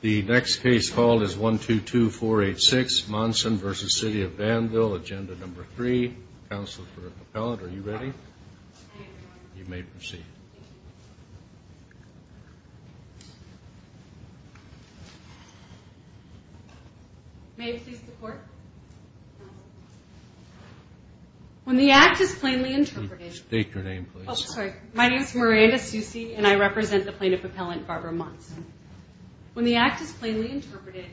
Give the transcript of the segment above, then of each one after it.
The next case called is 122486, Monson v. City of Danville, Agenda No. 3, Council for a Propellant. Are you ready? You may proceed. May I please report? When the act is plainly interpreted... State your name, please. My name is Miranda Soucy, and I represent the plaintiff appellant, Barbara Monson. When the act is plainly interpreted,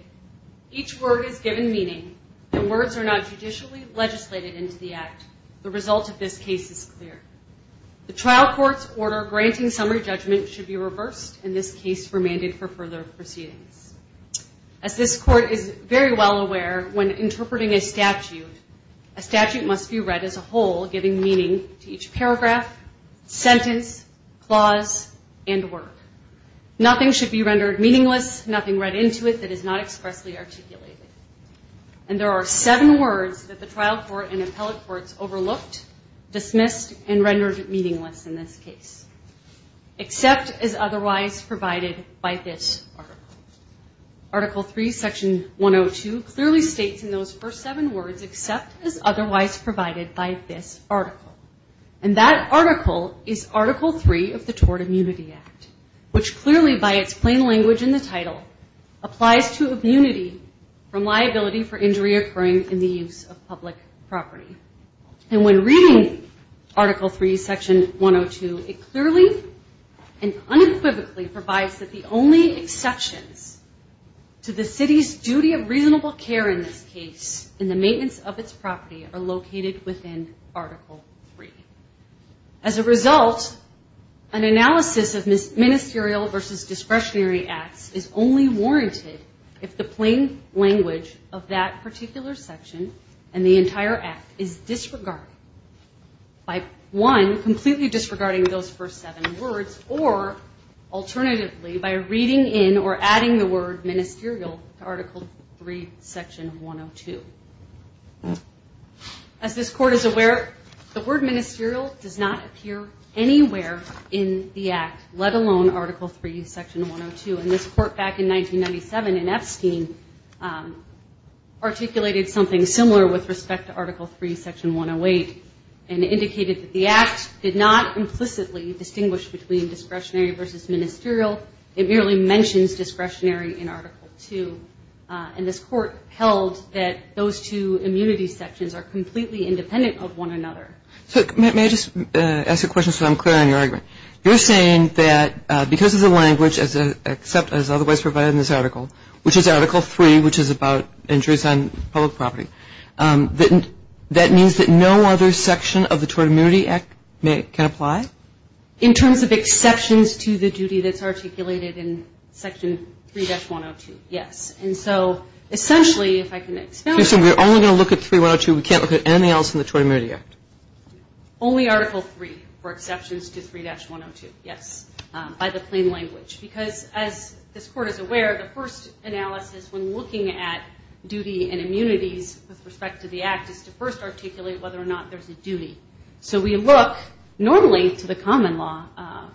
each word is given meaning, and words are not judicially legislated into the act. The result of this case is clear. The trial court's order granting summary judgment should be reversed, and this case remanded for further proceedings. As this court is very well aware, when interpreting a statute, a statute must be read as a whole, giving meaning to each paragraph, sentence, clause, and word. Nothing should be rendered meaningless, nothing read into it that is not expressly articulated. And there are seven words that the trial court and appellate courts overlooked, dismissed, and rendered meaningless in this case. Except is otherwise provided by this article. Article 3, Section 102 clearly states in those first seven words, except is otherwise provided by this article. And that article is Article 3 of the Tort Immunity Act, which clearly, by its plain language in the title, applies to immunity from liability for injury occurring in the use of public property. And when reading Article 3, Section 102, it clearly and unequivocally provides that the only exceptions to the city's duty of reasonable care in this case, in the maintenance of its property, are located within Article 3. As a result, an analysis of ministerial versus discretionary acts is only warranted if the plain language of that particular section and the entire act is disregarded. By, one, completely disregarding those first seven words, or alternatively, by reading in or adding the word ministerial to Article 3, Section 102. As this court is aware, the word ministerial does not appear anywhere in the act, let alone Article 3, Section 102. And this court back in 1997 in Epstein articulated something similar with respect to Article 3, Section 108. And it indicated that the act did not implicitly distinguish between discretionary versus ministerial. It merely mentions discretionary in Article 2. And this court held that those two immunity sections are completely independent of one another. May I just ask a question so I'm clear on your argument? You're saying that because of the language except as otherwise provided in this article, which is Article 3, which is about injuries on public property, that means that no other section of the Tort Immunity Act can apply? In terms of exceptions to the duty that's articulated in Section 3-102, yes. And so, essentially, if I can expound on that. You're saying we're only going to look at 3-102, we can't look at anything else in the Tort Immunity Act? Only Article 3 for exceptions to 3-102, yes, by the plain language. Because as this court is aware, the first analysis when looking at duty and immunities with respect to the act is to first articulate whether or not there's a duty. So we look normally to the common law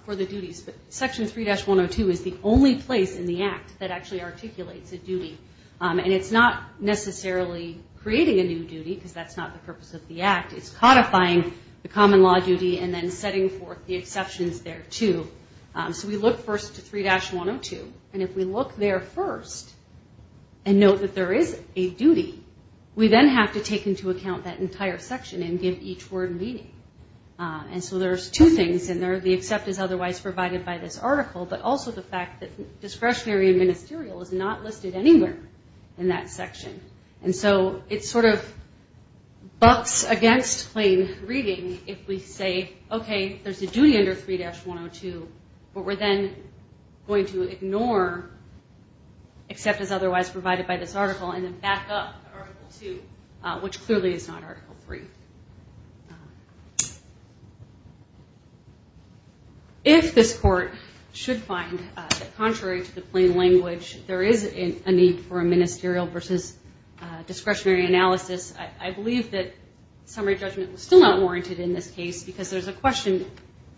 for the duties, but Section 3-102 is the only place in the act that actually articulates a duty. And it's not necessarily creating a new duty, because that's not the purpose of the act. It's codifying the common law duty and then setting forth the exceptions there too. So we look first to 3-102, and if we look there first and note that there is a duty, we then have to take into account that entire section and give each word meaning. And so there's two things in there. The except is otherwise provided by this article, but also the fact that discretionary and ministerial is not listed anywhere in that section. And so it sort of bucks against plain reading if we say, okay, there's a duty under 3-102, but we're then going to ignore except is otherwise provided by this article and then back up Article 2, which clearly is not Article 3. If this court should find that contrary to the plain language, there is a need for a ministerial versus discretionary analysis, I believe that summary judgment was still not warranted in this case, because there's a question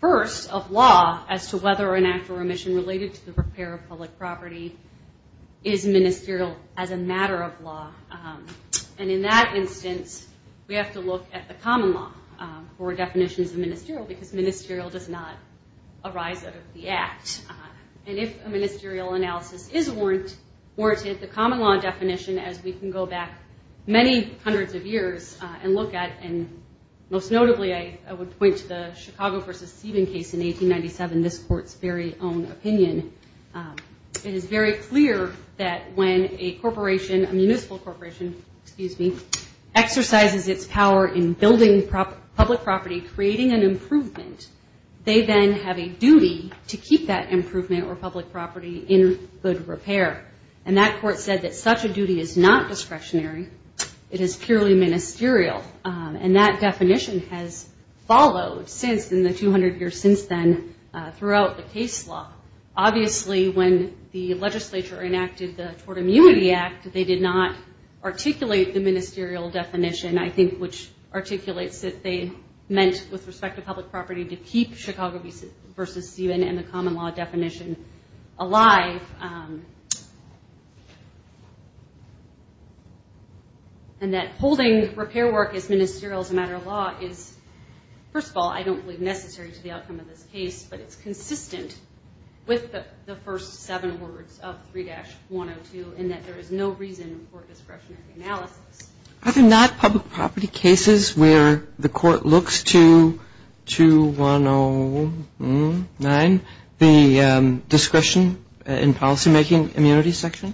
first of law as to whether an act or omission related to the repair of public property is ministerial as a matter of law. And in that instance, we have to look at the common law for definitions of ministerial because ministerial does not arise out of the act. And if a ministerial analysis is warranted, the common law definition, as we can go back many hundreds of years and look at, and most notably I would point to the Chicago v. Stephen case in 1897, this court's very own opinion, it is very clear that when a corporation, a municipal corporation, exercises its power in building public property, creating an improvement, they then have a duty to keep that improvement or public property in good repair. And that court said that such a duty is not discretionary. It is purely ministerial. And that definition has followed in the 200 years since then throughout the case law. Obviously when the legislature enacted the Tort Immunity Act, they did not articulate the ministerial definition, I think which articulates that they meant with respect to public property to keep Chicago v. Stephen and the common law definition alive. And that holding repair work as ministerial as a matter of law is, first of all, I don't believe necessary to the outcome of this case, but it's consistent with the first seven words of 3-102 in that there is no reason for discretionary analysis. Are there not public property cases where the court looks to 2-109, the discretion in policymaking immunity section?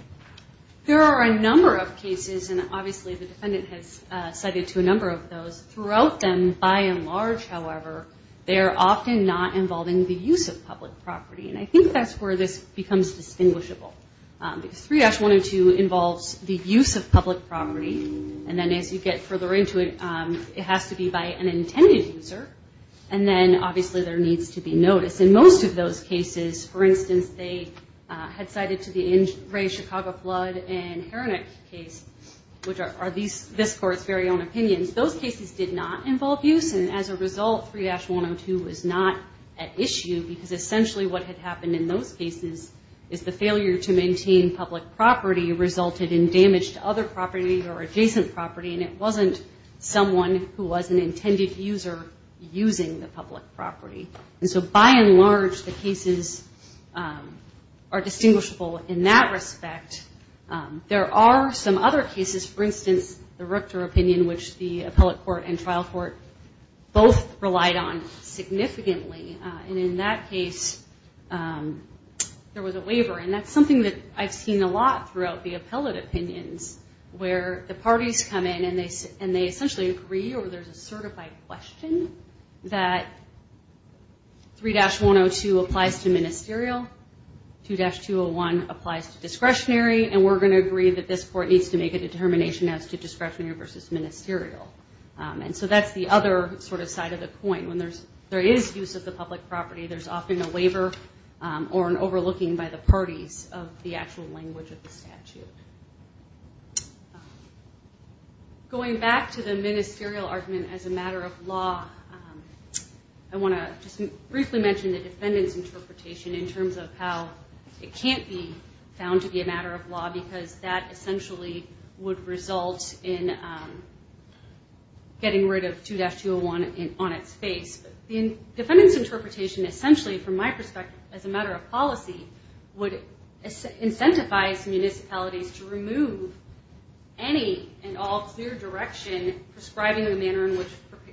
There are a number of cases, and obviously the defendant has cited to a number of those. Throughout them, by and large, however, they are often not involving the use of public property. And I think that's where this becomes distinguishable, because 3-102 involves the use of public property. And then as you get further into it, it has to be by an intended user. And then obviously there needs to be notice. In most of those cases, for instance, they had cited to the Ray Chicago Flood and Heronic case, which are this court's very own opinions. Those cases did not involve use, and as a result, 3-102 was not at issue, because essentially what had happened in those cases is the failure to maintain public property resulted in damage to other property or adjacent property, and it wasn't someone who was an intended user using the public property. And so by and large, the cases are distinguishable in that respect. There are some other cases, for instance, the Ruchter opinion, which the appellate court and trial court both relied on significantly. And in that case, there was a waiver, and that's something that I've seen a lot throughout the appellate opinions, where the parties come in and they essentially agree or there's a certified question that 3-102 applies to ministerial, 2-201 applies to discretionary, and we're going to agree that this court needs to make a determination as to discretionary versus ministerial. And so that's the other sort of side of the coin. When there is use of the public property, there's often a waiver Going back to the ministerial argument as a matter of law, I want to just briefly mention the defendant's interpretation in terms of how it can't be found to be a matter of law because that essentially would result in getting rid of 2-201 on its face. The defendant's interpretation essentially, from my perspective, as a matter of policy, would incentivize municipalities to remove any and all clear direction prescribing the manner in which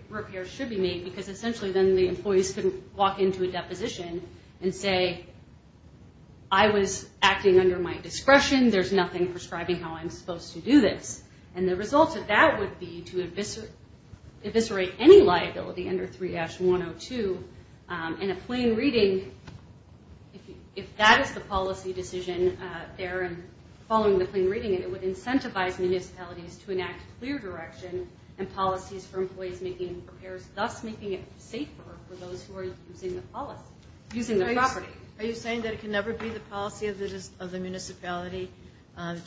repairs should be made, because essentially then the employees can walk into a deposition and say, I was acting under my discretion, there's nothing prescribing how I'm supposed to do this. And the result of that would be to eviscerate any liability under 3-102. In a plain reading, if that is the policy decision there, and following the plain reading, it would incentivize municipalities to enact clear direction and policies for employees making repairs, thus making it safer for those who are using the property. Are you saying that it can never be the policy of the municipality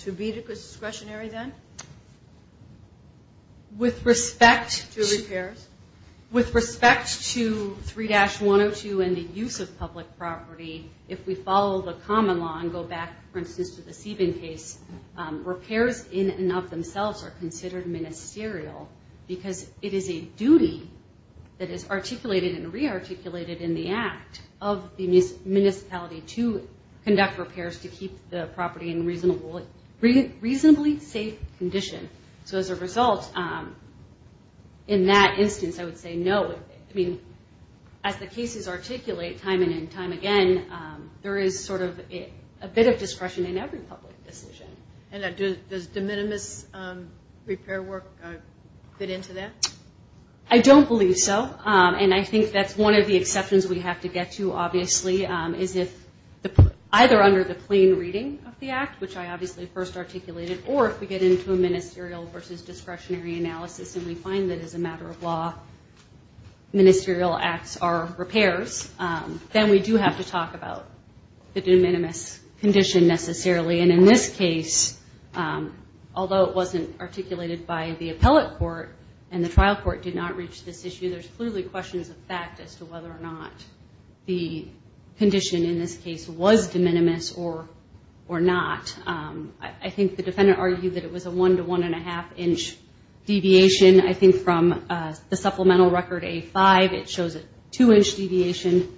to be discretionary then? With respect to repairs? With respect to 3-102 and the use of public property, if we follow the common law and go back, for instance, to the Sieben case, repairs in and of themselves are considered ministerial because it is a duty that is articulated and rearticulated in the act of the municipality to conduct repairs to keep the property in reasonably safe condition. So as a result, in that instance, I would say no. I mean, as the cases articulate time and time again, there is sort of a bit of discretion in every public decision. And does de minimis repair work fit into that? I don't believe so. And I think that's one of the exceptions we have to get to, obviously, is if either under the plain reading of the act, which I obviously first articulated, or if we get into a ministerial versus discretionary analysis and we find that as a matter of law ministerial acts are repairs, then we do have to talk about the de minimis condition necessarily. And in this case, although it wasn't articulated by the appellate court and the trial court did not reach this issue, there's clearly questions of fact as to whether or not the condition in this case was de minimis or not. I think the defendant argued that it was a one to one and a half inch deviation. I think from the supplemental record A5 it shows a two inch deviation,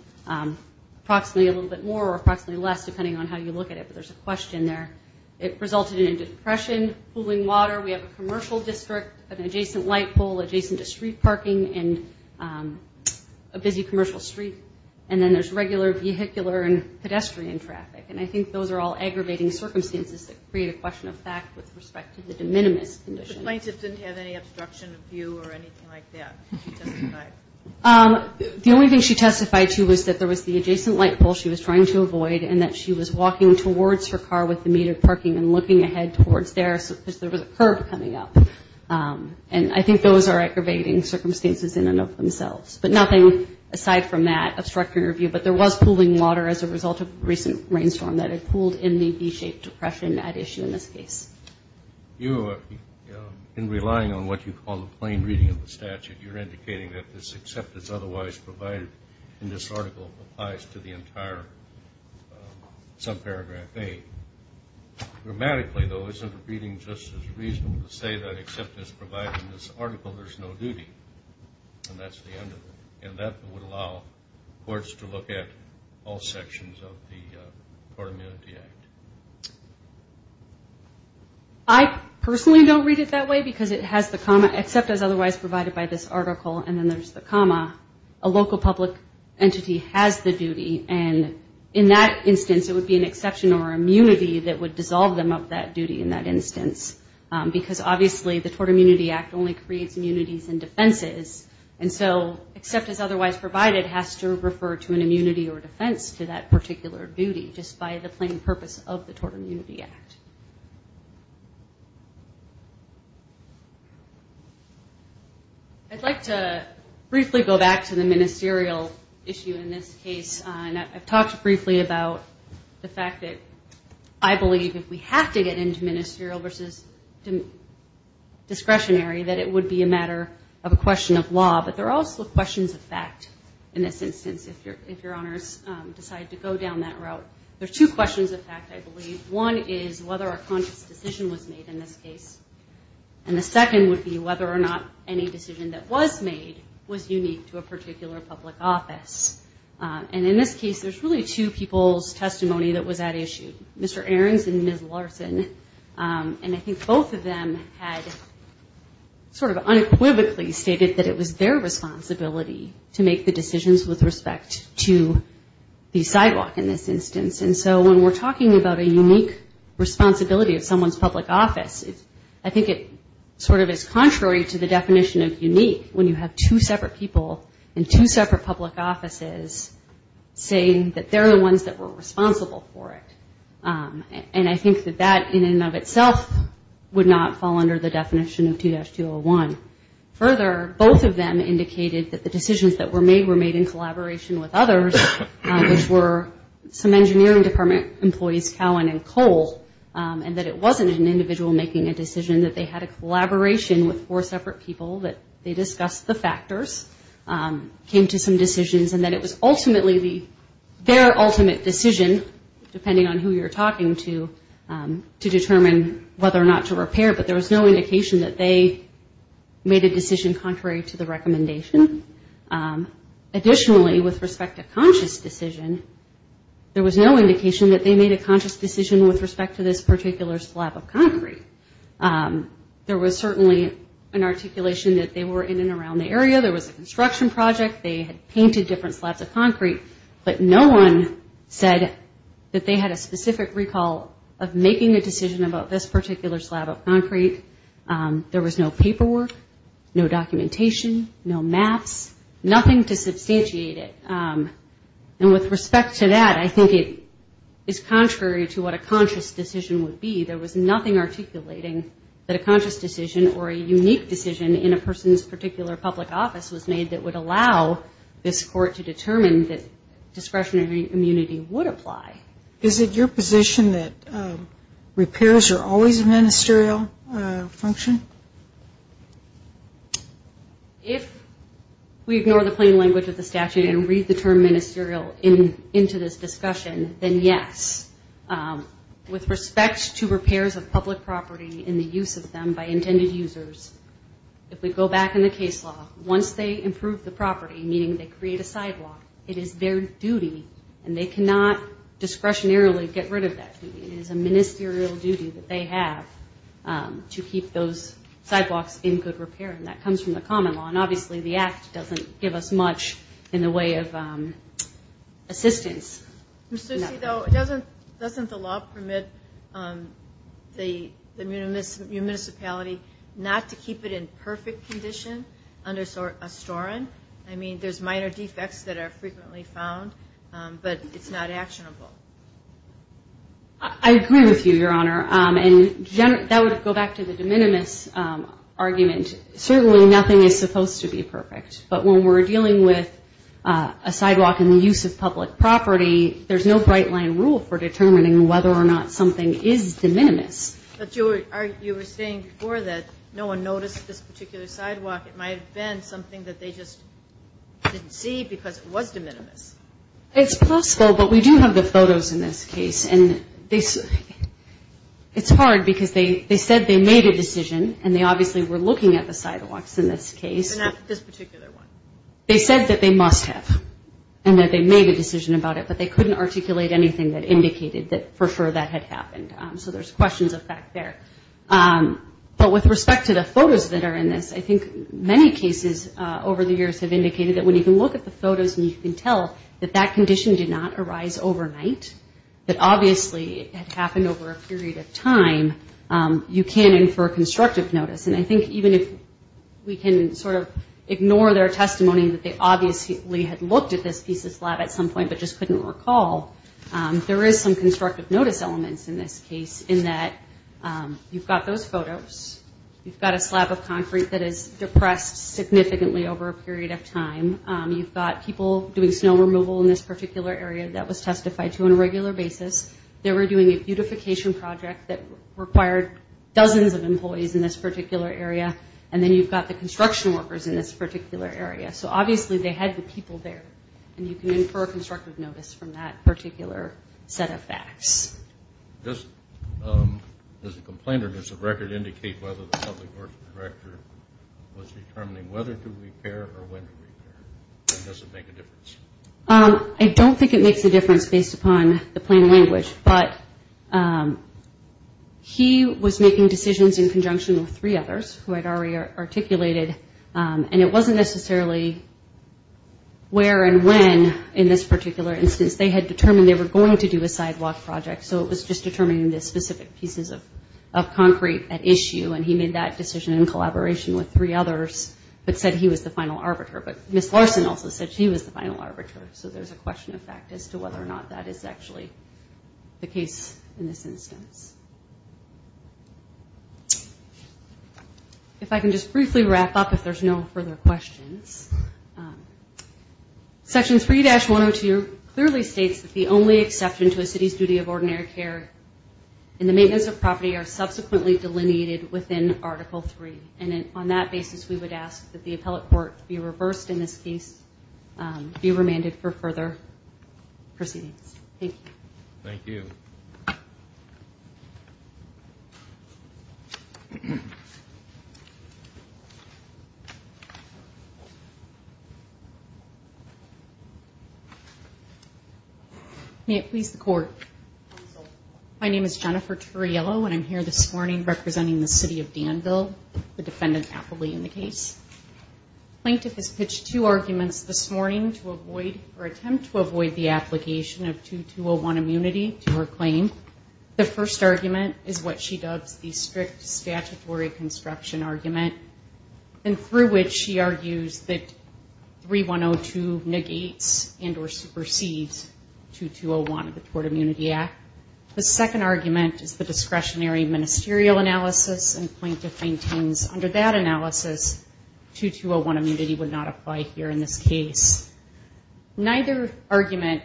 approximately a little bit more or approximately less depending on how you look at it, but there's a question there. It resulted in a depression, pooling water. We have a commercial district, an adjacent light pole, adjacent to street parking, and a busy commercial street. And then there's regular vehicular and pedestrian traffic. And I think those are all aggravating circumstances that create a question of fact with respect to the de minimis condition. The plaintiff didn't have any obstruction of view or anything like that, she testified. The only thing she testified to was that there was the adjacent light pole she was trying to avoid and that she was walking towards her car with the metered parking and looking ahead towards there because there was a curb coming up. And I think those are aggravating circumstances in and of themselves. But nothing aside from that obstructing her view. But there was pooling water as a result of a recent rainstorm that had pooled in the V-shaped depression at issue in this case. You, in relying on what you call the plain reading of the statute, you're indicating that this acceptance otherwise provided in this article applies to the entire subparagraph A. Grammatically, though, isn't the reading just as reasonable to say that except it's provided in this article, there's no duty, and that's the end of it. And that would allow courts to look at all sections of the Court of Immunity Act. I personally don't read it that way because it has the comma, except as otherwise provided by this article, and then there's the comma, a local public entity has the duty. And in that instance, it would be an exception or immunity that would dissolve them up that duty in that instance. Because, obviously, the Tort Immunity Act only creates immunities and defenses. And so except as otherwise provided has to refer to an immunity or defense to that particular duty, just by the plain purpose of the Tort Immunity Act. I'd like to briefly go back to the ministerial issue in this case. And I've talked briefly about the fact that I believe if we have to get into ministerial versus discretionary, that it would be a matter of a question of law. But there are also questions of fact in this instance, if Your Honors decide to go down that route. One is whether a conscious decision was made in this case. And the second would be whether or not any decision that was made was unique to a particular public office. And in this case, there's really two people's testimony that was at issue, Mr. Ahrens and Ms. Larson. And I think both of them had sort of unequivocally stated that it was their responsibility to make the decisions with respect to the sidewalk in this instance. And so when we're talking about a unique responsibility of someone's public office, I think it sort of is contrary to the definition of unique, when you have two separate people in two separate public offices saying that they're the ones that were responsible for it. And I think that that in and of itself would not fall under the definition of 2-201. Further, both of them indicated that the decisions that were made were made in collaboration with others, which were some engineering department employees, Cowan and Cole, and that it wasn't an individual making a decision, that they had a collaboration with four separate people, that they discussed the factors, came to some decisions, and that it was ultimately their ultimate decision, depending on who you're talking to, to determine whether or not to repair, but there was no indication that they made a decision contrary to the recommendation. Additionally, with respect to conscious decision, there was no indication that they made a conscious decision with respect to this particular slab of concrete. There was certainly an articulation that they were in and around the area, there was a construction project, they had painted different slabs of concrete, but no one said that they had a specific recall of making a decision about this particular slab of concrete. There was no paperwork, no documentation, no maps, nothing to substantiate it. And with respect to that, I think it is contrary to what a conscious decision would be. There was nothing articulating that a conscious decision or a unique decision in a person's particular public office was made that would allow this court to determine that discretionary immunity would apply. Is it your position that repairs are always a ministerial function? If we ignore the plain language of the statute and read the term ministerial into this discussion, then yes. With respect to repairs of public property and the use of them by intended users, if we go back in the case law, once they improve the property, meaning they create a sidewalk, it is their duty, and they cannot discretionarily get rid of that duty. It is a ministerial duty that they have to keep those sidewalks in good repair, and that comes from the common law, and obviously the act doesn't give us much in the way of assistance. Ms. Ducey, though, doesn't the law permit the municipality not to keep it in perfect condition under Astoran? I mean, there's minor defects that are frequently found, but it's not actionable. I agree with you, Your Honor, and that would go back to the de minimis argument. Certainly nothing is supposed to be perfect, but when we're dealing with a sidewalk and the use of public property, there's no bright line rule for determining whether or not something is de minimis. But you were saying before that no one noticed this particular sidewalk. It might have been something that they just didn't see because it was de minimis. It's possible, but we do have the photos in this case. It's hard because they said they made a decision, and they obviously were looking at the sidewalks in this case. They said that they must have, and that they made a decision about it, but they couldn't articulate anything that indicated that for sure that had happened. So there's questions of fact there. But with respect to the photos that are in this, I think many cases over the years have indicated that when you can look at the photos and you can tell that that condition did not arise overnight, that obviously it had happened over a period of time, you can infer constructive notice. And I think even if we can sort of ignore their testimony that they obviously had looked at this piece of slab at some point, but just couldn't recall, there is some constructive notice elements in this case, in that you've got those photos. You've got a slab of concrete that is depressed significantly over a period of time. You've got people doing snow removal in this particular area that was testified to on a regular basis. They were doing a beautification project that required dozens of employees in this particular area. And then you've got the construction workers in this particular area. So obviously they had the people there. And you can infer constructive notice from that particular set of facts. I don't think it makes a difference based upon the plain language, but he was making decisions in conjunction with three others who had already articulated, and it wasn't necessarily where and when in this particular instance. They had determined they were going to do a sidewalk project, so it was just determining the specific pieces of concrete at issue. And he made that decision in collaboration with three others, but said he was the final arbiter. But Ms. Larson also said she was the final arbiter, so there's a question of fact as to whether or not that is actually the case in this instance. If I can just briefly wrap up, if there's no further questions. Section 3-102 clearly states that the only exception to a city's duty of ordinary care in the maintenance of property are subsequently delineated within Article 3. And on that basis, we would ask that the appellate court be reversed in this case, be remanded for further proceedings. Thank you. My name is Jennifer Turriello, and I'm here this morning representing the City of Danville, the defendant appellee in the case. The plaintiff has pitched two arguments this morning to avoid, or attempt to avoid the application of 2-201 immunity to her claim. The first argument is what she dubs the strict statutory construction argument, and through which she argues that 3-102 negates and or supersedes 2-201 of the Tort Immunity Act. The second argument is the discretionary ministerial analysis, and the plaintiff maintains under that analysis, 2-201 immunity would not apply here in this case. Neither argument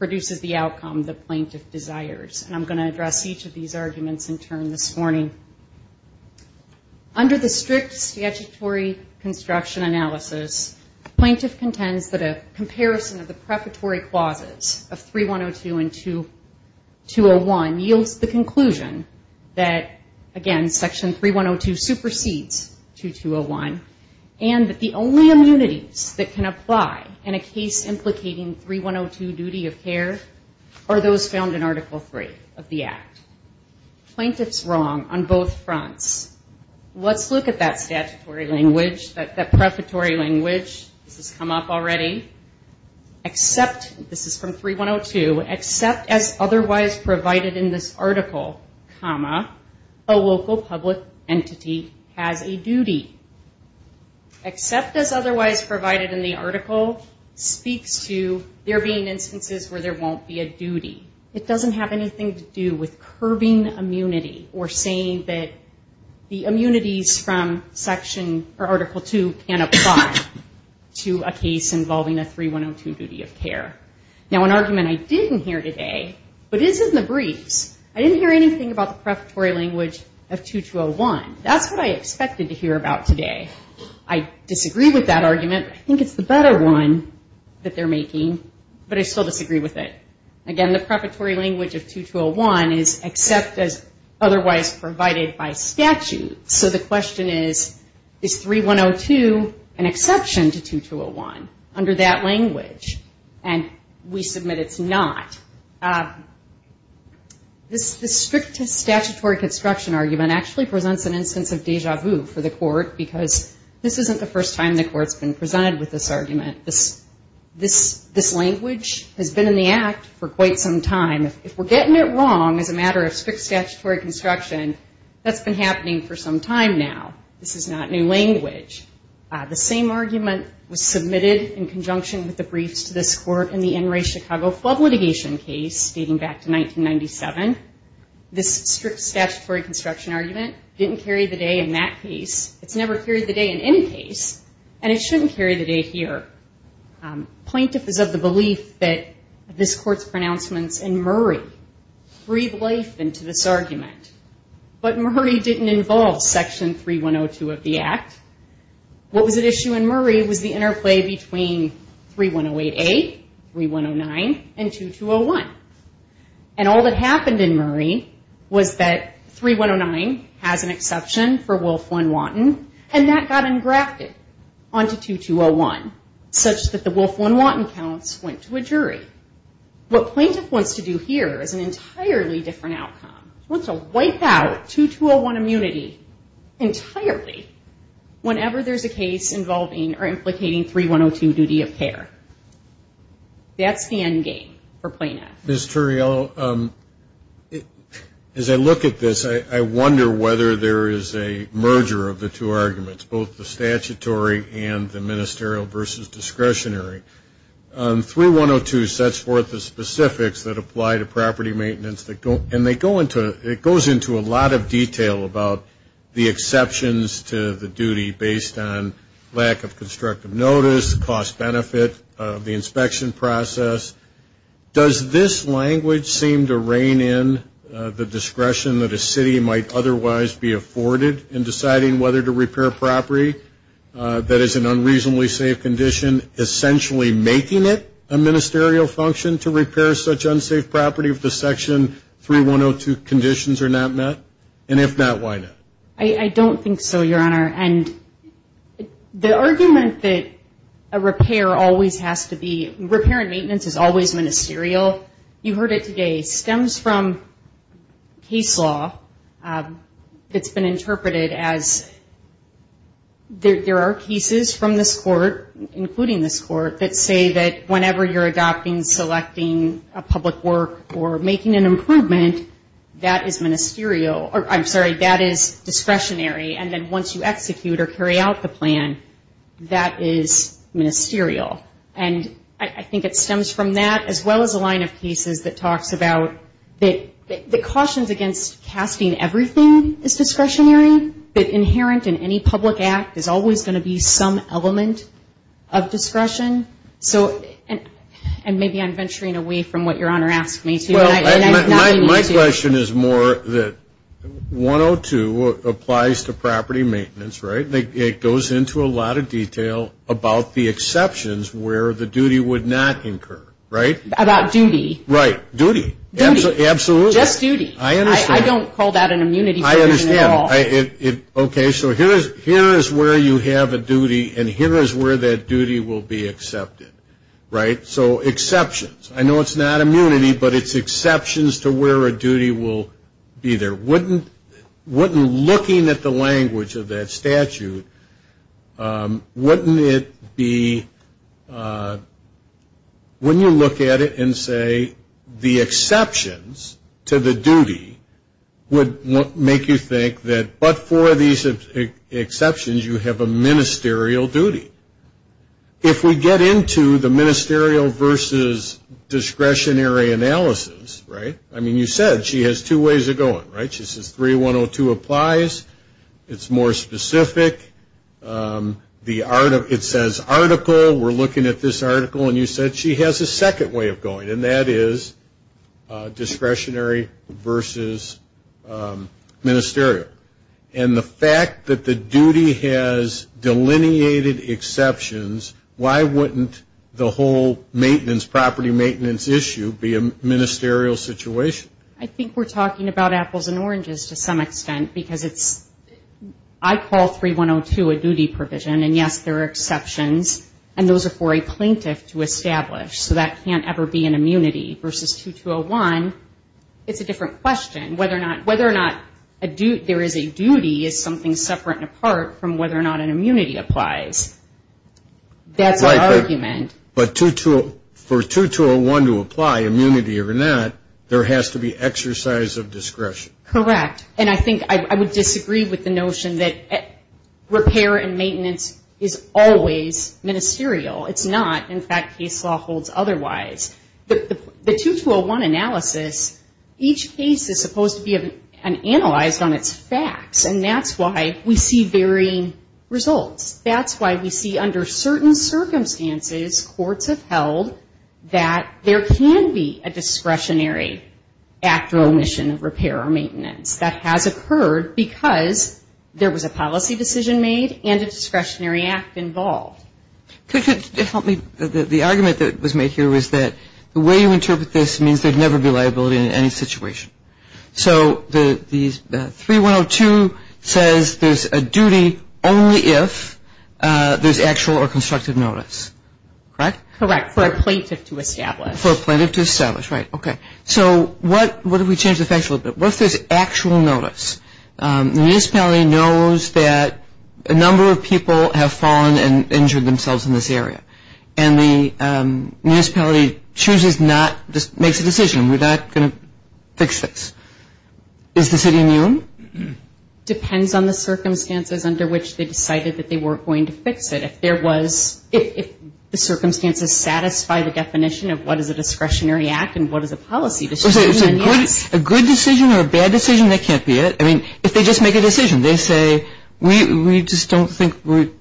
produces the outcome the plaintiff desires, and I'm going to address each of these arguments in turn this morning. Under the strict statutory construction analysis, the plaintiff contends that a comparison of the prefatory clauses of 3-102 and 2-201 yields the conclusion that, again, Section 3-102 supersedes 2-201, and that the only immunities that can apply in a case implicating 3-102 duty of care are those found in Article 3 of the Act. Plaintiff's wrong on both fronts. Let's look at that statutory language, that prefatory language. This has come up already. This is from 3-102. Except as otherwise provided in this article, a local public entity has a duty. Except as otherwise provided in the article speaks to there being instances where there won't be a duty. It doesn't have anything to do with curbing immunity or saying that the immunities from Article 2 can apply to a case involving a 3-102 duty of care. Now, an argument I didn't hear today, but is in the briefs, I didn't hear anything about the prefatory language of 2-201. That's what I expected to hear about today. Again, the prefatory language of 2-201 is except as otherwise provided by statute. So the question is, is 3-102 an exception to 2-201 under that language? And we submit it's not. This strict statutory construction argument actually presents an instance of deja vu for the court, because this isn't the first time the court's been presented with this argument. This language has been in the Act for quite some time. If we're getting it wrong as a matter of strict statutory construction, that's been happening for some time now. This is not new language. The same argument was submitted in conjunction with the briefs to this court in the NRA Chicago Flood Litigation case dating back to 1997. This strict statutory construction argument didn't carry the day in that case. It's never carried the day in any case, and it shouldn't carry the day here. Plaintiff is of the belief that this court's pronouncements in Murray breathe life into this argument. But Murray didn't involve Section 3-102 of the Act. What was at issue in Murray was the interplay between 3-108A, 3-109, and 2-201. And all that happened in Murray was that 3-109 has an exception for Wolf-1-Wanton, and that got engrafted onto 2-201, such that the Wolf-1-Wanton counts went to a jury. What plaintiff wants to do here is an entirely different outcome. He wants to wipe out 2-201 immunity entirely whenever there's a case involving or implicating 3-102 duty of care. That's the end game for plaintiff. Ms. Turriello, as I look at this, I wonder whether there is a merger of the two arguments, both the statutory and the ministerial versus discretionary. 3-102 sets forth the specifics that apply to property maintenance, and it goes into a lot of detail about the exceptions to the duty based on lack of constructive notice, cost benefit of the inspection process. Does this language seem to rein in the discretion that a city might otherwise be afforded in deciding whether to repair property that is an unreasonably safe condition, essentially making it a ministerial function to repair such unsafe property if the Section 3-102 conditions are not met? And if not, why not? I don't think so, Your Honor. And the argument that a repair always has to be, repair and maintenance is always ministerial, you heard it today, stems from case law that's been interpreted as there are cases from this Court, including this Court, that say that whenever you're adopting, selecting a public work or making an improvement, that is ministerial, I'm sorry, that is discretionary, and then once you execute or carry out the plan, that is ministerial. And I think it stems from that, as well as a line of cases that talks about that the cautions against casting everything is discretionary, that inherent in any public act is always going to be some element of discretion. So, and maybe I'm venturing away from what Your Honor asked me to. My question is more that 102 applies to property maintenance, right? It goes into a lot of detail about the exceptions where the duty would not incur, right? About duty. Right. Duty. Absolutely. Just duty. I don't call that an immunity provision at all. Okay, so here is where you have a duty, and here is where that duty will be accepted, right? So exceptions. I know it's not immunity, but it's exceptions to where a duty will be there. Wouldn't looking at the language of that statute, wouldn't it be, when you look at it and say the exceptions to the duty would make you think that, but for these exceptions, you have a ministerial duty. If we get into the ministerial versus discretionary analysis, right? I mean, you said she has two ways of going, right? She says 3102 applies. It's more specific. It says article. We're looking at this article, and you said she has a second way of going, and that is discretionary versus ministerial. And the fact that the duty has delineated exceptions, why wouldn't the whole maintenance, property maintenance issue be a ministerial situation? I think we're talking about apples and oranges to some extent, because it's, I call 3102 a duty provision, and yes, there are exceptions, and those are for a plaintiff to establish, so that can't ever be an immunity. Versus 2201, it's a different question. Whether or not there is a duty is something separate and apart from whether or not an immunity applies. That's my argument. But for 2201 to apply, immunity or not, there has to be exercise of discretion. Correct. And I think I would disagree with the notion that repair and maintenance is always ministerial. It's not. In fact, case law holds otherwise. The 2201 analysis, each case is supposed to be analyzed on its facts, and that's why we see varying results. And I think it's fair to say, as courts have held, that there can be a discretionary act or omission of repair or maintenance. That has occurred because there was a policy decision made and a discretionary act involved. Could you help me? The argument that was made here was that the way you interpret this means there would never be liability in any situation. So 3102 says there's a duty only if there's actual or constructive notice, correct? Correct. For a plaintiff to establish. For a plaintiff to establish, right. Okay. So what if we change the facts a little bit? What if there's actual notice? The municipality knows that a number of people have fallen and injured themselves in this area. And the municipality chooses not, makes a decision, we're not going to fix this. Is the city immune? Depends on the circumstances under which they decided that they weren't going to fix it. If the circumstances satisfy the definition of what is a discretionary act and what is a policy decision, then yes. A good decision or a bad decision, that can't be it. If they just make a decision, they say, we just don't think, maybe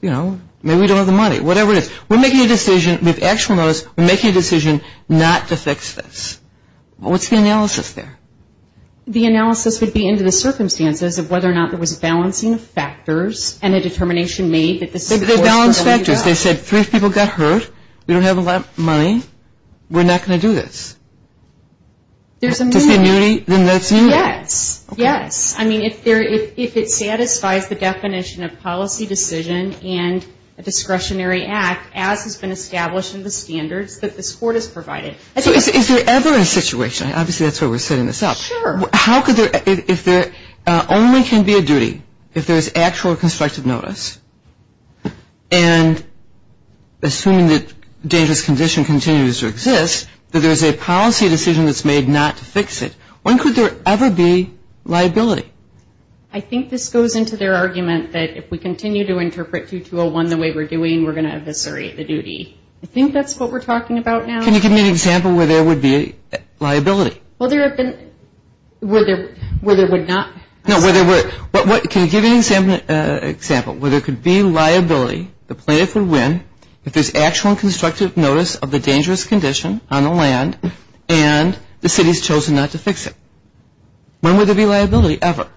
we don't have the money, whatever it is. We're making a decision with actual notice, we're making a decision not to fix this. What's the analysis there? The analysis would be into the circumstances of whether or not there was balancing of factors and a determination made that this is the course we're going to go. They said three people got hurt, we don't have a lot of money, we're not going to do this. If there's immunity, then that's immunity. Yes. If it satisfies the definition of policy decision and a discretionary act, as has been established in the standards that this court has provided. Is there ever a situation, obviously that's why we're setting this up, how could there, if there only can be a duty, if there's actual constructive notice, and assuming that dangerous condition continues to exist, that there's a policy decision that's made not to fix it, when could there ever be liability? I think this goes into their argument that if we continue to interpret 2-2-0-1 the way we're doing, we're going to eviscerate the duty. I think that's what we're talking about now. Can you give me an example where there would be liability? Well, there have been, where there would not. No, can you give me an example where there could be liability, the plaintiff would win, if there's actual constructive notice of the dangerous condition on the land and the city's chosen not to fix it. When would there be liability ever?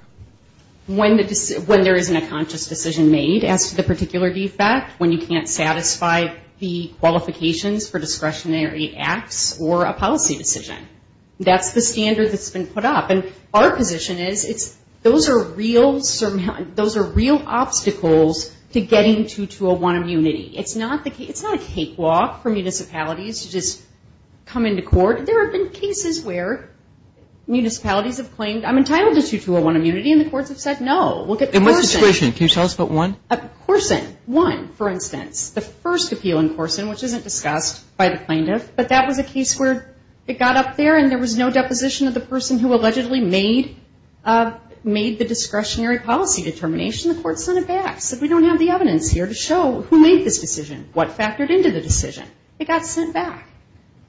When there isn't a conscious decision made as to the particular defect, when you can't satisfy the qualifications for discretionary acts or a policy decision. That's the standard that's been put up. And our position is those are real obstacles to getting to 2-2-0-1 immunity. It's not a cakewalk for municipalities to just come into court. There have been cases where municipalities have claimed, I'm entitled to 2-2-0-1 immunity and the courts have said no. And what's discretion, can you tell us about one? Corson, one, for instance. The first appeal in Corson, which isn't discussed by the plaintiff, but that was a case where it got up there and there was no deposition of the person who allegedly made the discretionary policy determination. The court sent it back, said we don't have the evidence here to show who made this decision, what factored into the decision. It got sent back.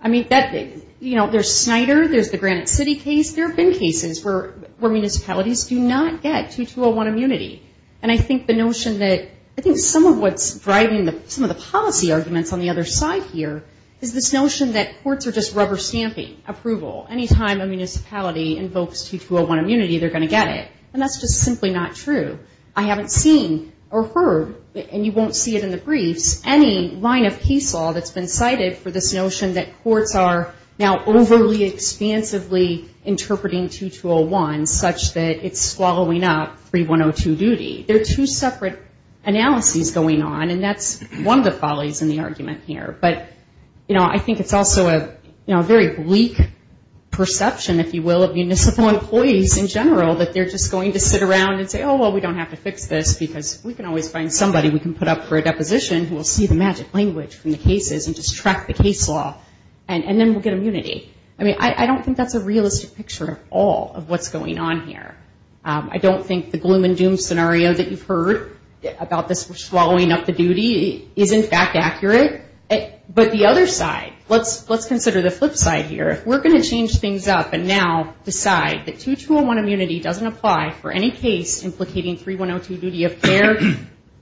There's Snyder, there's the Granite City case, there have been cases where municipalities do not get 2-2-0-1 immunity. And I think the notion that, I think some of what's driving some of the policy arguments on the other side here is this notion that courts are just rubber stamping, approval. Anytime a municipality invokes 2-2-0-1 immunity, they're going to get it. And that's just simply not true. I haven't seen or heard, and you won't see it in the briefs, any line of case law that's been cited for this notion that courts are now overly expansively interpreting 2-2-0-1 such that it's swallowing up 3-1-0-2 duty. There are two separate analyses going on, and that's one of the follies in the argument here. But, you know, I think it's also a very bleak perception, if you will, of municipal employees in general, that they're just going to get 2-2-0-1 immunity. They're just going to sit around and say, oh, well, we don't have to fix this, because we can always find somebody we can put up for a deposition who will see the magic language from the cases and just track the case law, and then we'll get immunity. I mean, I don't think that's a realistic picture at all of what's going on here. I don't think the gloom and doom scenario that you've heard about this swallowing up the duty is, in fact, accurate. But the other side, let's consider the flip side here. If we're going to change things up and now decide that 2-2-0-1 immunity doesn't apply for any case implicating 3-1-0-2 duty of care,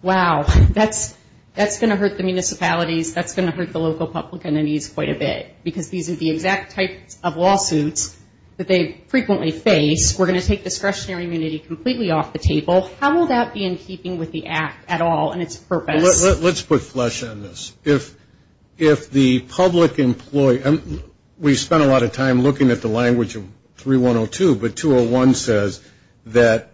wow, that's going to hurt the municipalities. That's going to hurt the local public entities quite a bit, because these are the exact types of lawsuits that they frequently face. We're going to take discretionary immunity completely off the table. How will that be in keeping with the act at all and its purpose? Well, let's put flesh on this. If the public employee we spent a lot of time looking at the language of 3-1-0-2, but 2-0-1 says that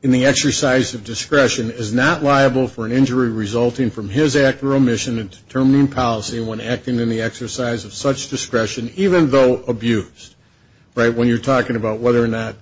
in the exercise of discretion is not liable for an injury resulting from his act or omission in determining policy when acting in the exercise of such discretion, even though abused. Right, when you're talking about whether or not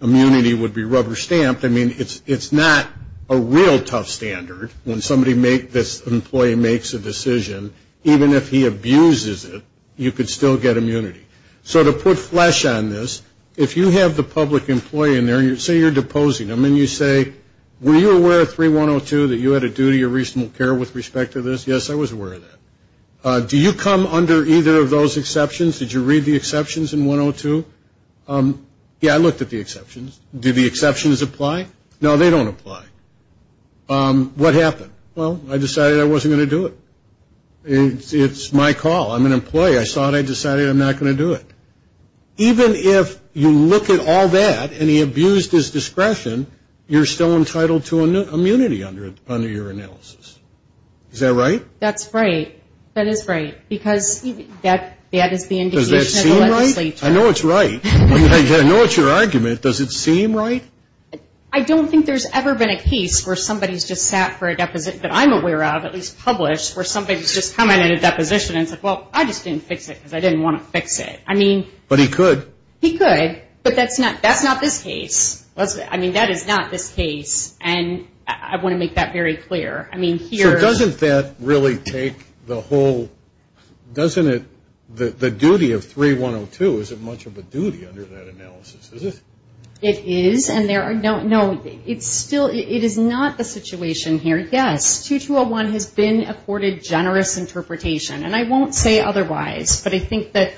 immunity would be rubber stamped. I mean, it's not a real tough standard when somebody makes, an employee makes a decision, even if he abuses it, you could still get immunity. So to put flesh on this, if you have the public employee in there and say you're deposing him and you say, were you aware of 3-1-0-2 that you had a duty of reasonable care with respect to this? Yes, I was aware of that. Do you come under either of those exceptions? Did you read the exceptions in 1-0-2? Yeah, I looked at the exceptions. Do the exceptions apply? No, they don't apply. What happened? Well, I decided I wasn't going to do it. It's my call, I'm an employee, I saw it, I decided I'm not going to do it. Even if you look at all that and he abused his discretion, you're still entitled to immunity under your analysis. Is that right? That's right. I know it's right. I know it's your argument. Does it seem right? I don't think there's ever been a case where somebody's just sat for a deposition that I'm aware of, at least published, where somebody's just commented a deposition and said, well, I just didn't fix it because I didn't want to fix it. But he could. He could, but that's not this case. I want to make that very clear. Doesn't the duty of 3-1-0-2, is it much of a duty under that analysis? It is. No, it's still, it is not the situation here. Yes, 2-2-0-1 has been accorded generous interpretation. And I won't say otherwise, but I think that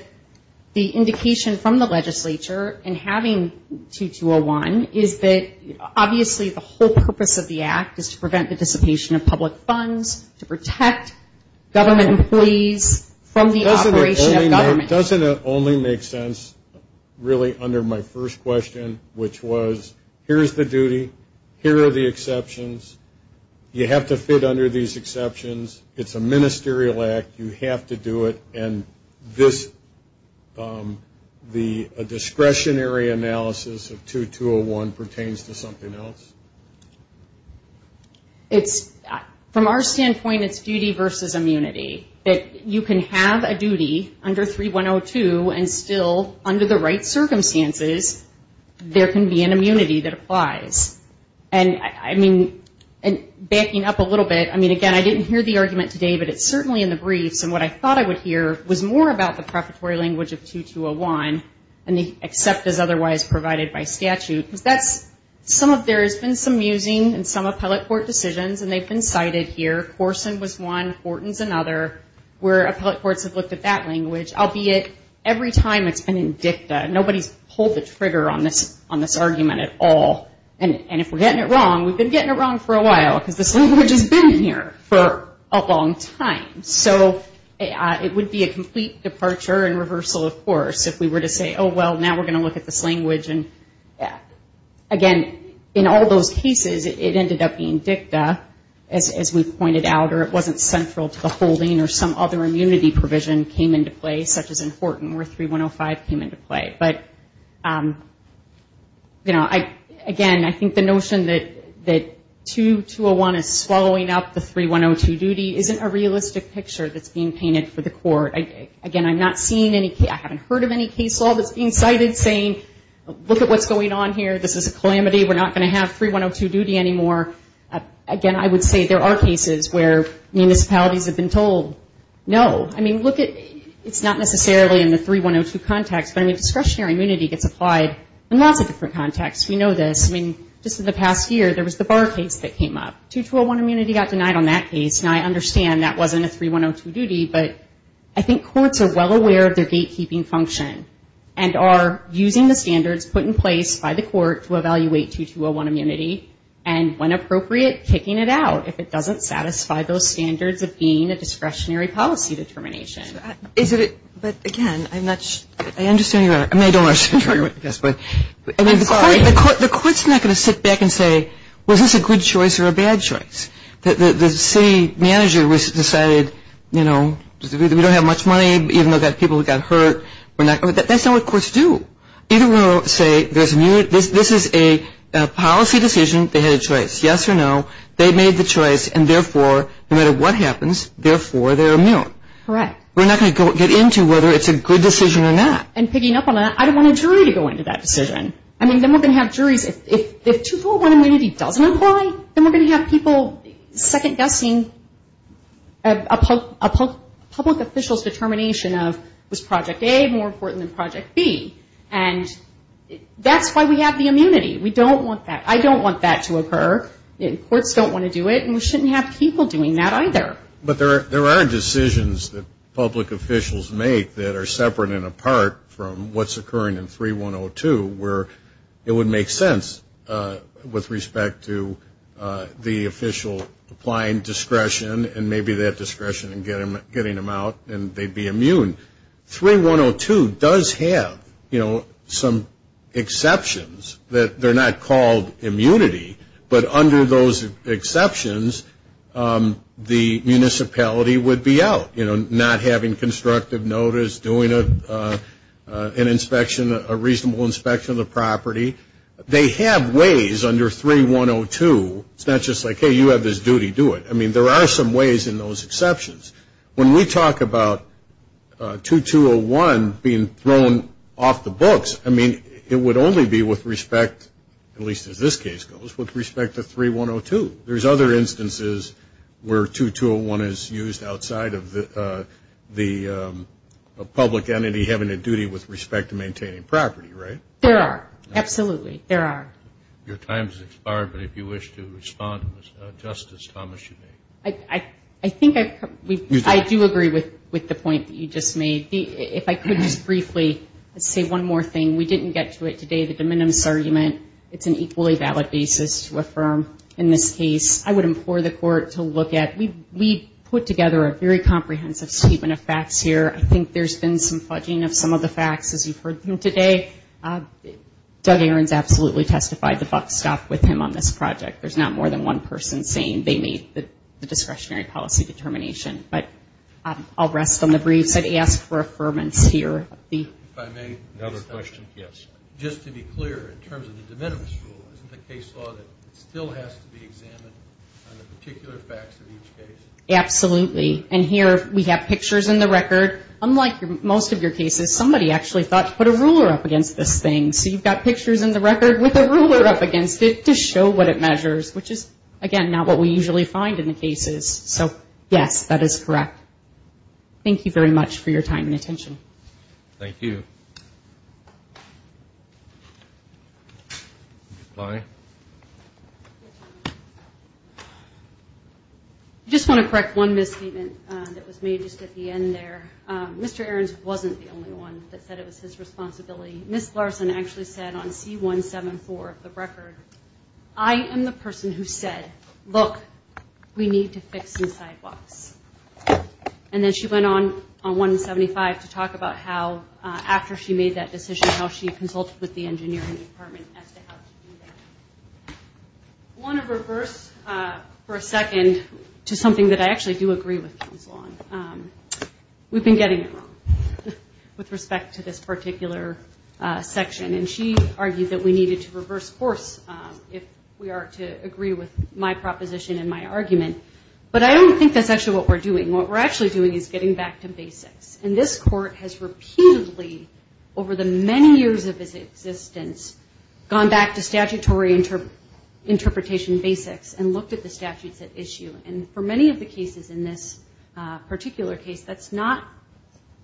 the indication from the legislature in having 2-2-0-1 is that obviously the whole purpose of the act is to prevent the dissipation of public funds, to protect government employees from the operation of government. Doesn't it only make sense, really, under my first question, which was, here's the duty, here are the exceptions, you have to fit under these exceptions, it's a ministerial act, you have to do it, and this, the discretionary analysis of 2-2-0-1 pertains to something else? It's, from our standpoint, it's duty versus immunity. That you can have a duty under 3-1-0-2 and still, under the right circumstances, there can be an immunity that applies. And, I mean, backing up a little bit, I mean, again, I didn't hear the argument today, but it's certainly in the briefs, and what I thought I would hear was more about the prefatory language of 2-2-0-1, and the accept as otherwise provided by statute. Because that's, some of, there has been some musing in some appellate court decisions, and they've been cited here. Corson was one, Horton's another, where appellate courts have looked at that language, albeit every time it's been in dicta. Nobody's pulled the trigger on this argument at all. And if we're getting it wrong, we've been getting it wrong for a while, because this language has been here for a long time. So it would be a complete departure and reversal, of course, if we were to say, oh, well, now we're going to look at this language. And, again, in all those cases, it ended up being dicta, as we pointed out. Or it wasn't central to the holding, or some other immunity provision came into play, such as in Horton, where 3-1-0-5 came into play. But, you know, again, I think the notion that 2-2-0-1 is swallowing up the 3-1-0-2 duty isn't a realistic picture that's being painted for the court. Again, I'm not seeing any, I haven't heard of any case law that's being cited saying, look at what's going on here. This is a calamity. We're not going to have 3-1-0-2 duty anymore. Again, I would say there are cases where municipalities have been told, no. I mean, look at, it's not necessarily in the 3-1-0-2 context, but, I mean, discretionary immunity gets applied in lots of different contexts. We know this. I mean, just in the past year, there was the Barr case that came up. 2-2-0-1 immunity got denied on that case, and I understand that wasn't a 3-1-0-2 duty, but I think courts are well aware of their gatekeeping function, and are using the standards put in place by the court to evaluate 2-2-0-1 immunity, and, when appropriate, kicking it out if it doesn't satisfy those standards of being a discretionary policy determination. But, again, I'm not sure. I mean, the court's not going to sit back and say, was this a good choice or a bad choice? The city manager decided, you know, we don't have much money, even though we've got people who got hurt. That's not what courts do. This is a policy decision. They had a choice, yes or no. They made the choice, and, therefore, no matter what happens, therefore they're immune. We're not going to get into whether it's a good decision or not. And, picking up on that, I don't want a jury to go into that decision. I mean, then we're going to have juries. If 2-2-0-1 immunity doesn't apply, then we're going to have people second-guessing a public official's determination of, was Project A more important than Project B. And that's why we have the immunity. There are exceptions that public officials make that are separate and apart from what's occurring in 3-1-0-2, where it would make sense with respect to the official applying discretion, and maybe that discretion in getting them out, and they'd be immune. 3-1-0-2 does have, you know, some exceptions that they're not called immunity, but under those exceptions, the municipality would be out, you know, not having constructive notice, doing an inspection, a reasonable inspection of the property. They have ways under 3-1-0-2, it's not just like, hey, you have this duty, do it. I mean, there are some ways in those exceptions. When we talk about 2-2-0-1 being thrown off the books, I mean, it would only be with respect, at least as this case goes, with respect to 3-1-0-2. There's other instances where 2-2-0-1 is used outside of the public entity having a duty with respect to maintaining property, right? There are, absolutely, there are. I think I do agree with the point that you just made. If I could just briefly say one more thing, we didn't get to it today, the de minimis argument. It's an equally valid basis to affirm in this case. I would implore the court to look at, we put together a very comprehensive statement of facts here. I think there's been some fudging of some of the facts as you've heard them today. Doug Ahrens absolutely testified the buck stopped with him on this project. There's not more than one person saying they made the discretionary policy determination. But I'll rest on the briefs and ask for affirmance here. Just to be clear, in terms of the de minimis rule, isn't the case law that it still has to be examined on the particular facts of each case? Absolutely, and here we have pictures in the record, unlike most of your cases, somebody actually thought to put a ruler up against this thing. So you've got pictures in the record with a ruler up against it to show what it measures, which is, again, not what we usually find in the cases. So, yes, that is correct. Thank you very much for your time and attention. Thank you. I just want to correct one misstatement that was made just at the end there. Mr. Ahrens wasn't the only one that said it was his responsibility. Ms. Larson actually said on C174 of the record, I am the person who said, look, we need to fix some sidewalks. And then she went on, on 175, to talk about how, after she made that decision, how she consulted with the engineering department as to how to do that. I want to reverse for a second to something that I actually do agree with, Councilwoman. We've been getting it wrong with respect to this particular section. And she argued that we needed to reverse course, if we are to agree with my proposition and my argument. But I don't think that's actually what we're doing. What we're actually doing is getting back to basics. And this Court has repeatedly, over the many years of its existence, gone back to statutory interpretation basics and looked at the statutes at issue. And in this particular case, that's not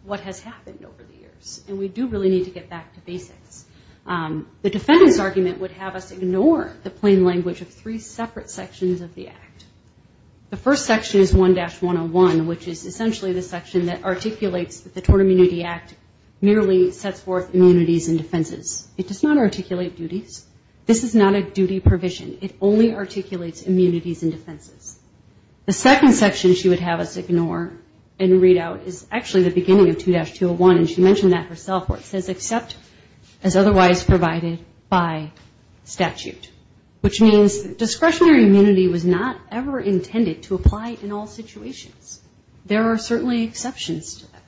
what has happened over the years. And we do really need to get back to basics. The defendant's argument would have us ignore the plain language of three separate sections of the Act. The first section is 1-101, which is essentially the section that articulates that the Tort Immunity Act merely sets forth immunities and defenses. It does not articulate duties. This is not a duty provision, it only articulates immunities and defenses. The second section she would have us ignore and read out is actually the beginning of 2-201, and she mentioned that herself, where it says, except as otherwise provided by statute. Which means discretionary immunity was not ever intended to apply in all situations. There are certainly exceptions to that.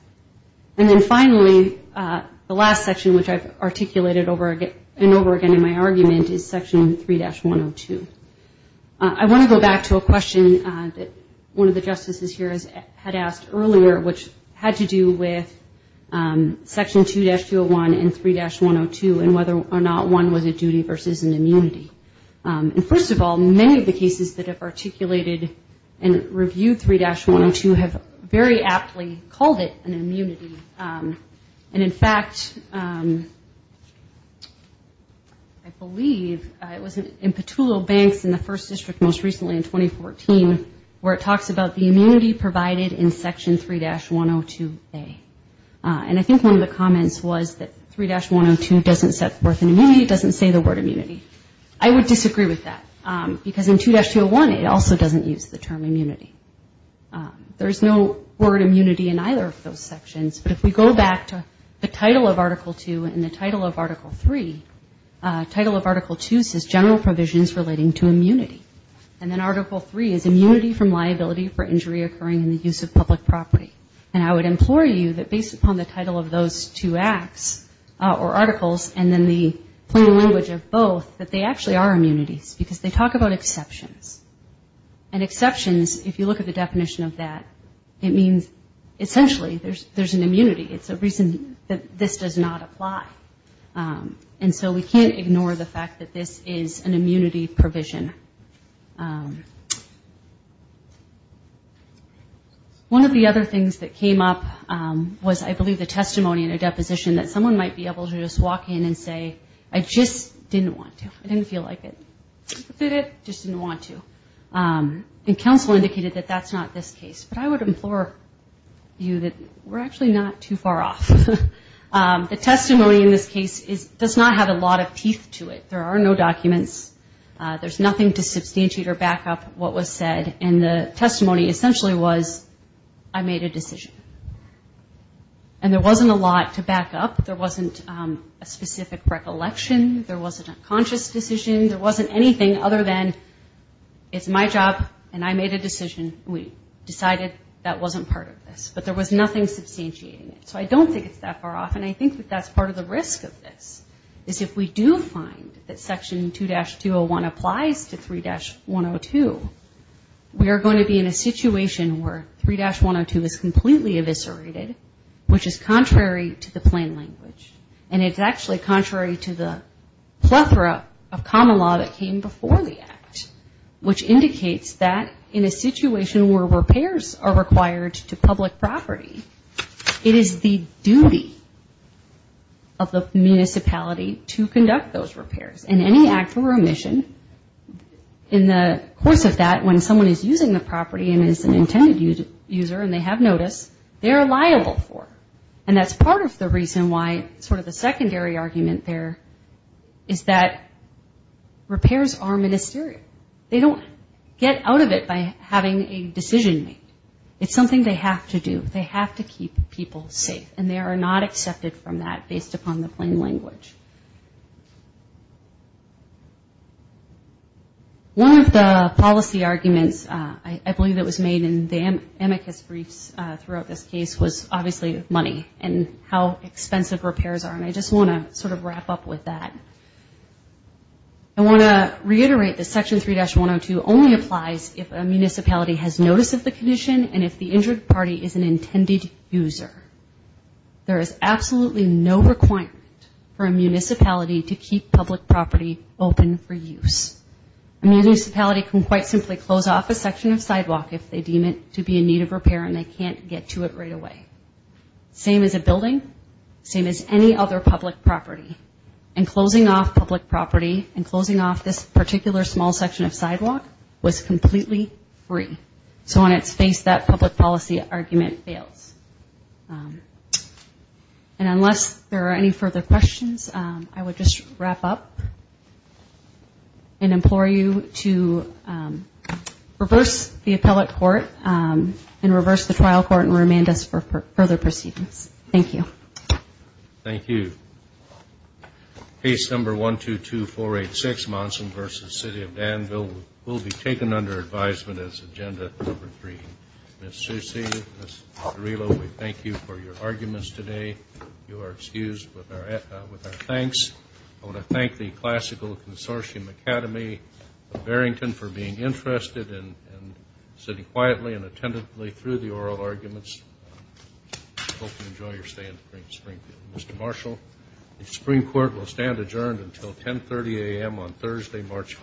And then finally, the last section, which I've articulated over and over again in my argument, is section 3-102. I want to go back to a question that one of the justices here had asked earlier, which had to do with section 2-201 and 3-102, and whether or not one was a duty versus an immunity. And first of all, many of the cases that have articulated and reviewed 3-102 have very aptly called it an immunity. And in fact, I believe it was in Petulo Banks in the First District most recently in 2014, where it talks about the immunity provided in section 3-102A. And I think one of the comments was that 3-102 doesn't set forth an immunity, it doesn't say the word immunity. I would disagree with that, because in 2-201 it also doesn't use the term immunity. There's no word immunity in either of those sections, but if we go back to the title of Article 2 and the title of Article 3, title of Article 2 says general provisions relating to immunity. And then Article 3 is immunity from liability for injury occurring in the use of public property. And I would implore you that based upon the title of those two acts, or articles, and then the plain language of both, that they actually are and if you look at the definition of that, it means essentially there's an immunity. It's a reason that this does not apply. And so we can't ignore the fact that this is an immunity provision. One of the other things that came up was I believe the testimony in a deposition that someone might be able to just walk in and say, I just didn't want to, I didn't feel like it, I just didn't want to. And counsel indicated that that's not this case, but I would implore you that we're actually not too far off. The testimony in this case does not have a lot of teeth to it. There are no documents. There's nothing to substantiate or back up what was said, and the testimony essentially was I made a decision. And there wasn't a lot to back up. There wasn't a specific recollection. There wasn't a conscious decision. There wasn't anything other than it's my job, and I made a decision, and we decided that wasn't part of this. But there was nothing substantiating it. So I don't think it's that far off, and I think that that's part of the risk of this, is if we do find that Section 2-201 applies to 3-102, we are going to be in a situation where 3-102 is completely eviscerated, which is contrary to the plain language. And it's actually contrary to the plethora of common law that came before the Act, which indicates that in a situation where repairs are required to public property, it is the duty of the municipality to conduct those repairs. And any act of remission in the course of that, when someone is using the property and is an intended user and they have notice, they are liable for. And that's part of the reason why sort of the secondary argument there is that repairs are ministerial. They don't get out of it by having a decision made. It's something they have to do. They have to keep people safe, and they are not accepted from that based upon the plain language. One of the policy arguments, I believe it was made in the amicus briefs throughout this case, was obviously money and how expensive repairs are, and I just want to sort of wrap up with that. I want to reiterate that Section 3-102 only applies if a municipality has notice of the condition and if the injured party is an intended user. There is absolutely no requirement for a municipality to keep public property open for use. A municipality can quite simply close off a section of sidewalk if they deem it to be in need of repair and they can't get to it right away. Same as a building, same as any other public property, and closing off public property and closing off this particular small section of sidewalk was completely free. So on its face, that public policy argument fails. And unless there are any further questions, I would just wrap up and implore you to reverse the appellate court and reverse the trial court and remand us for further proceedings. Thank you. Enjoy your stay in the Supreme Court.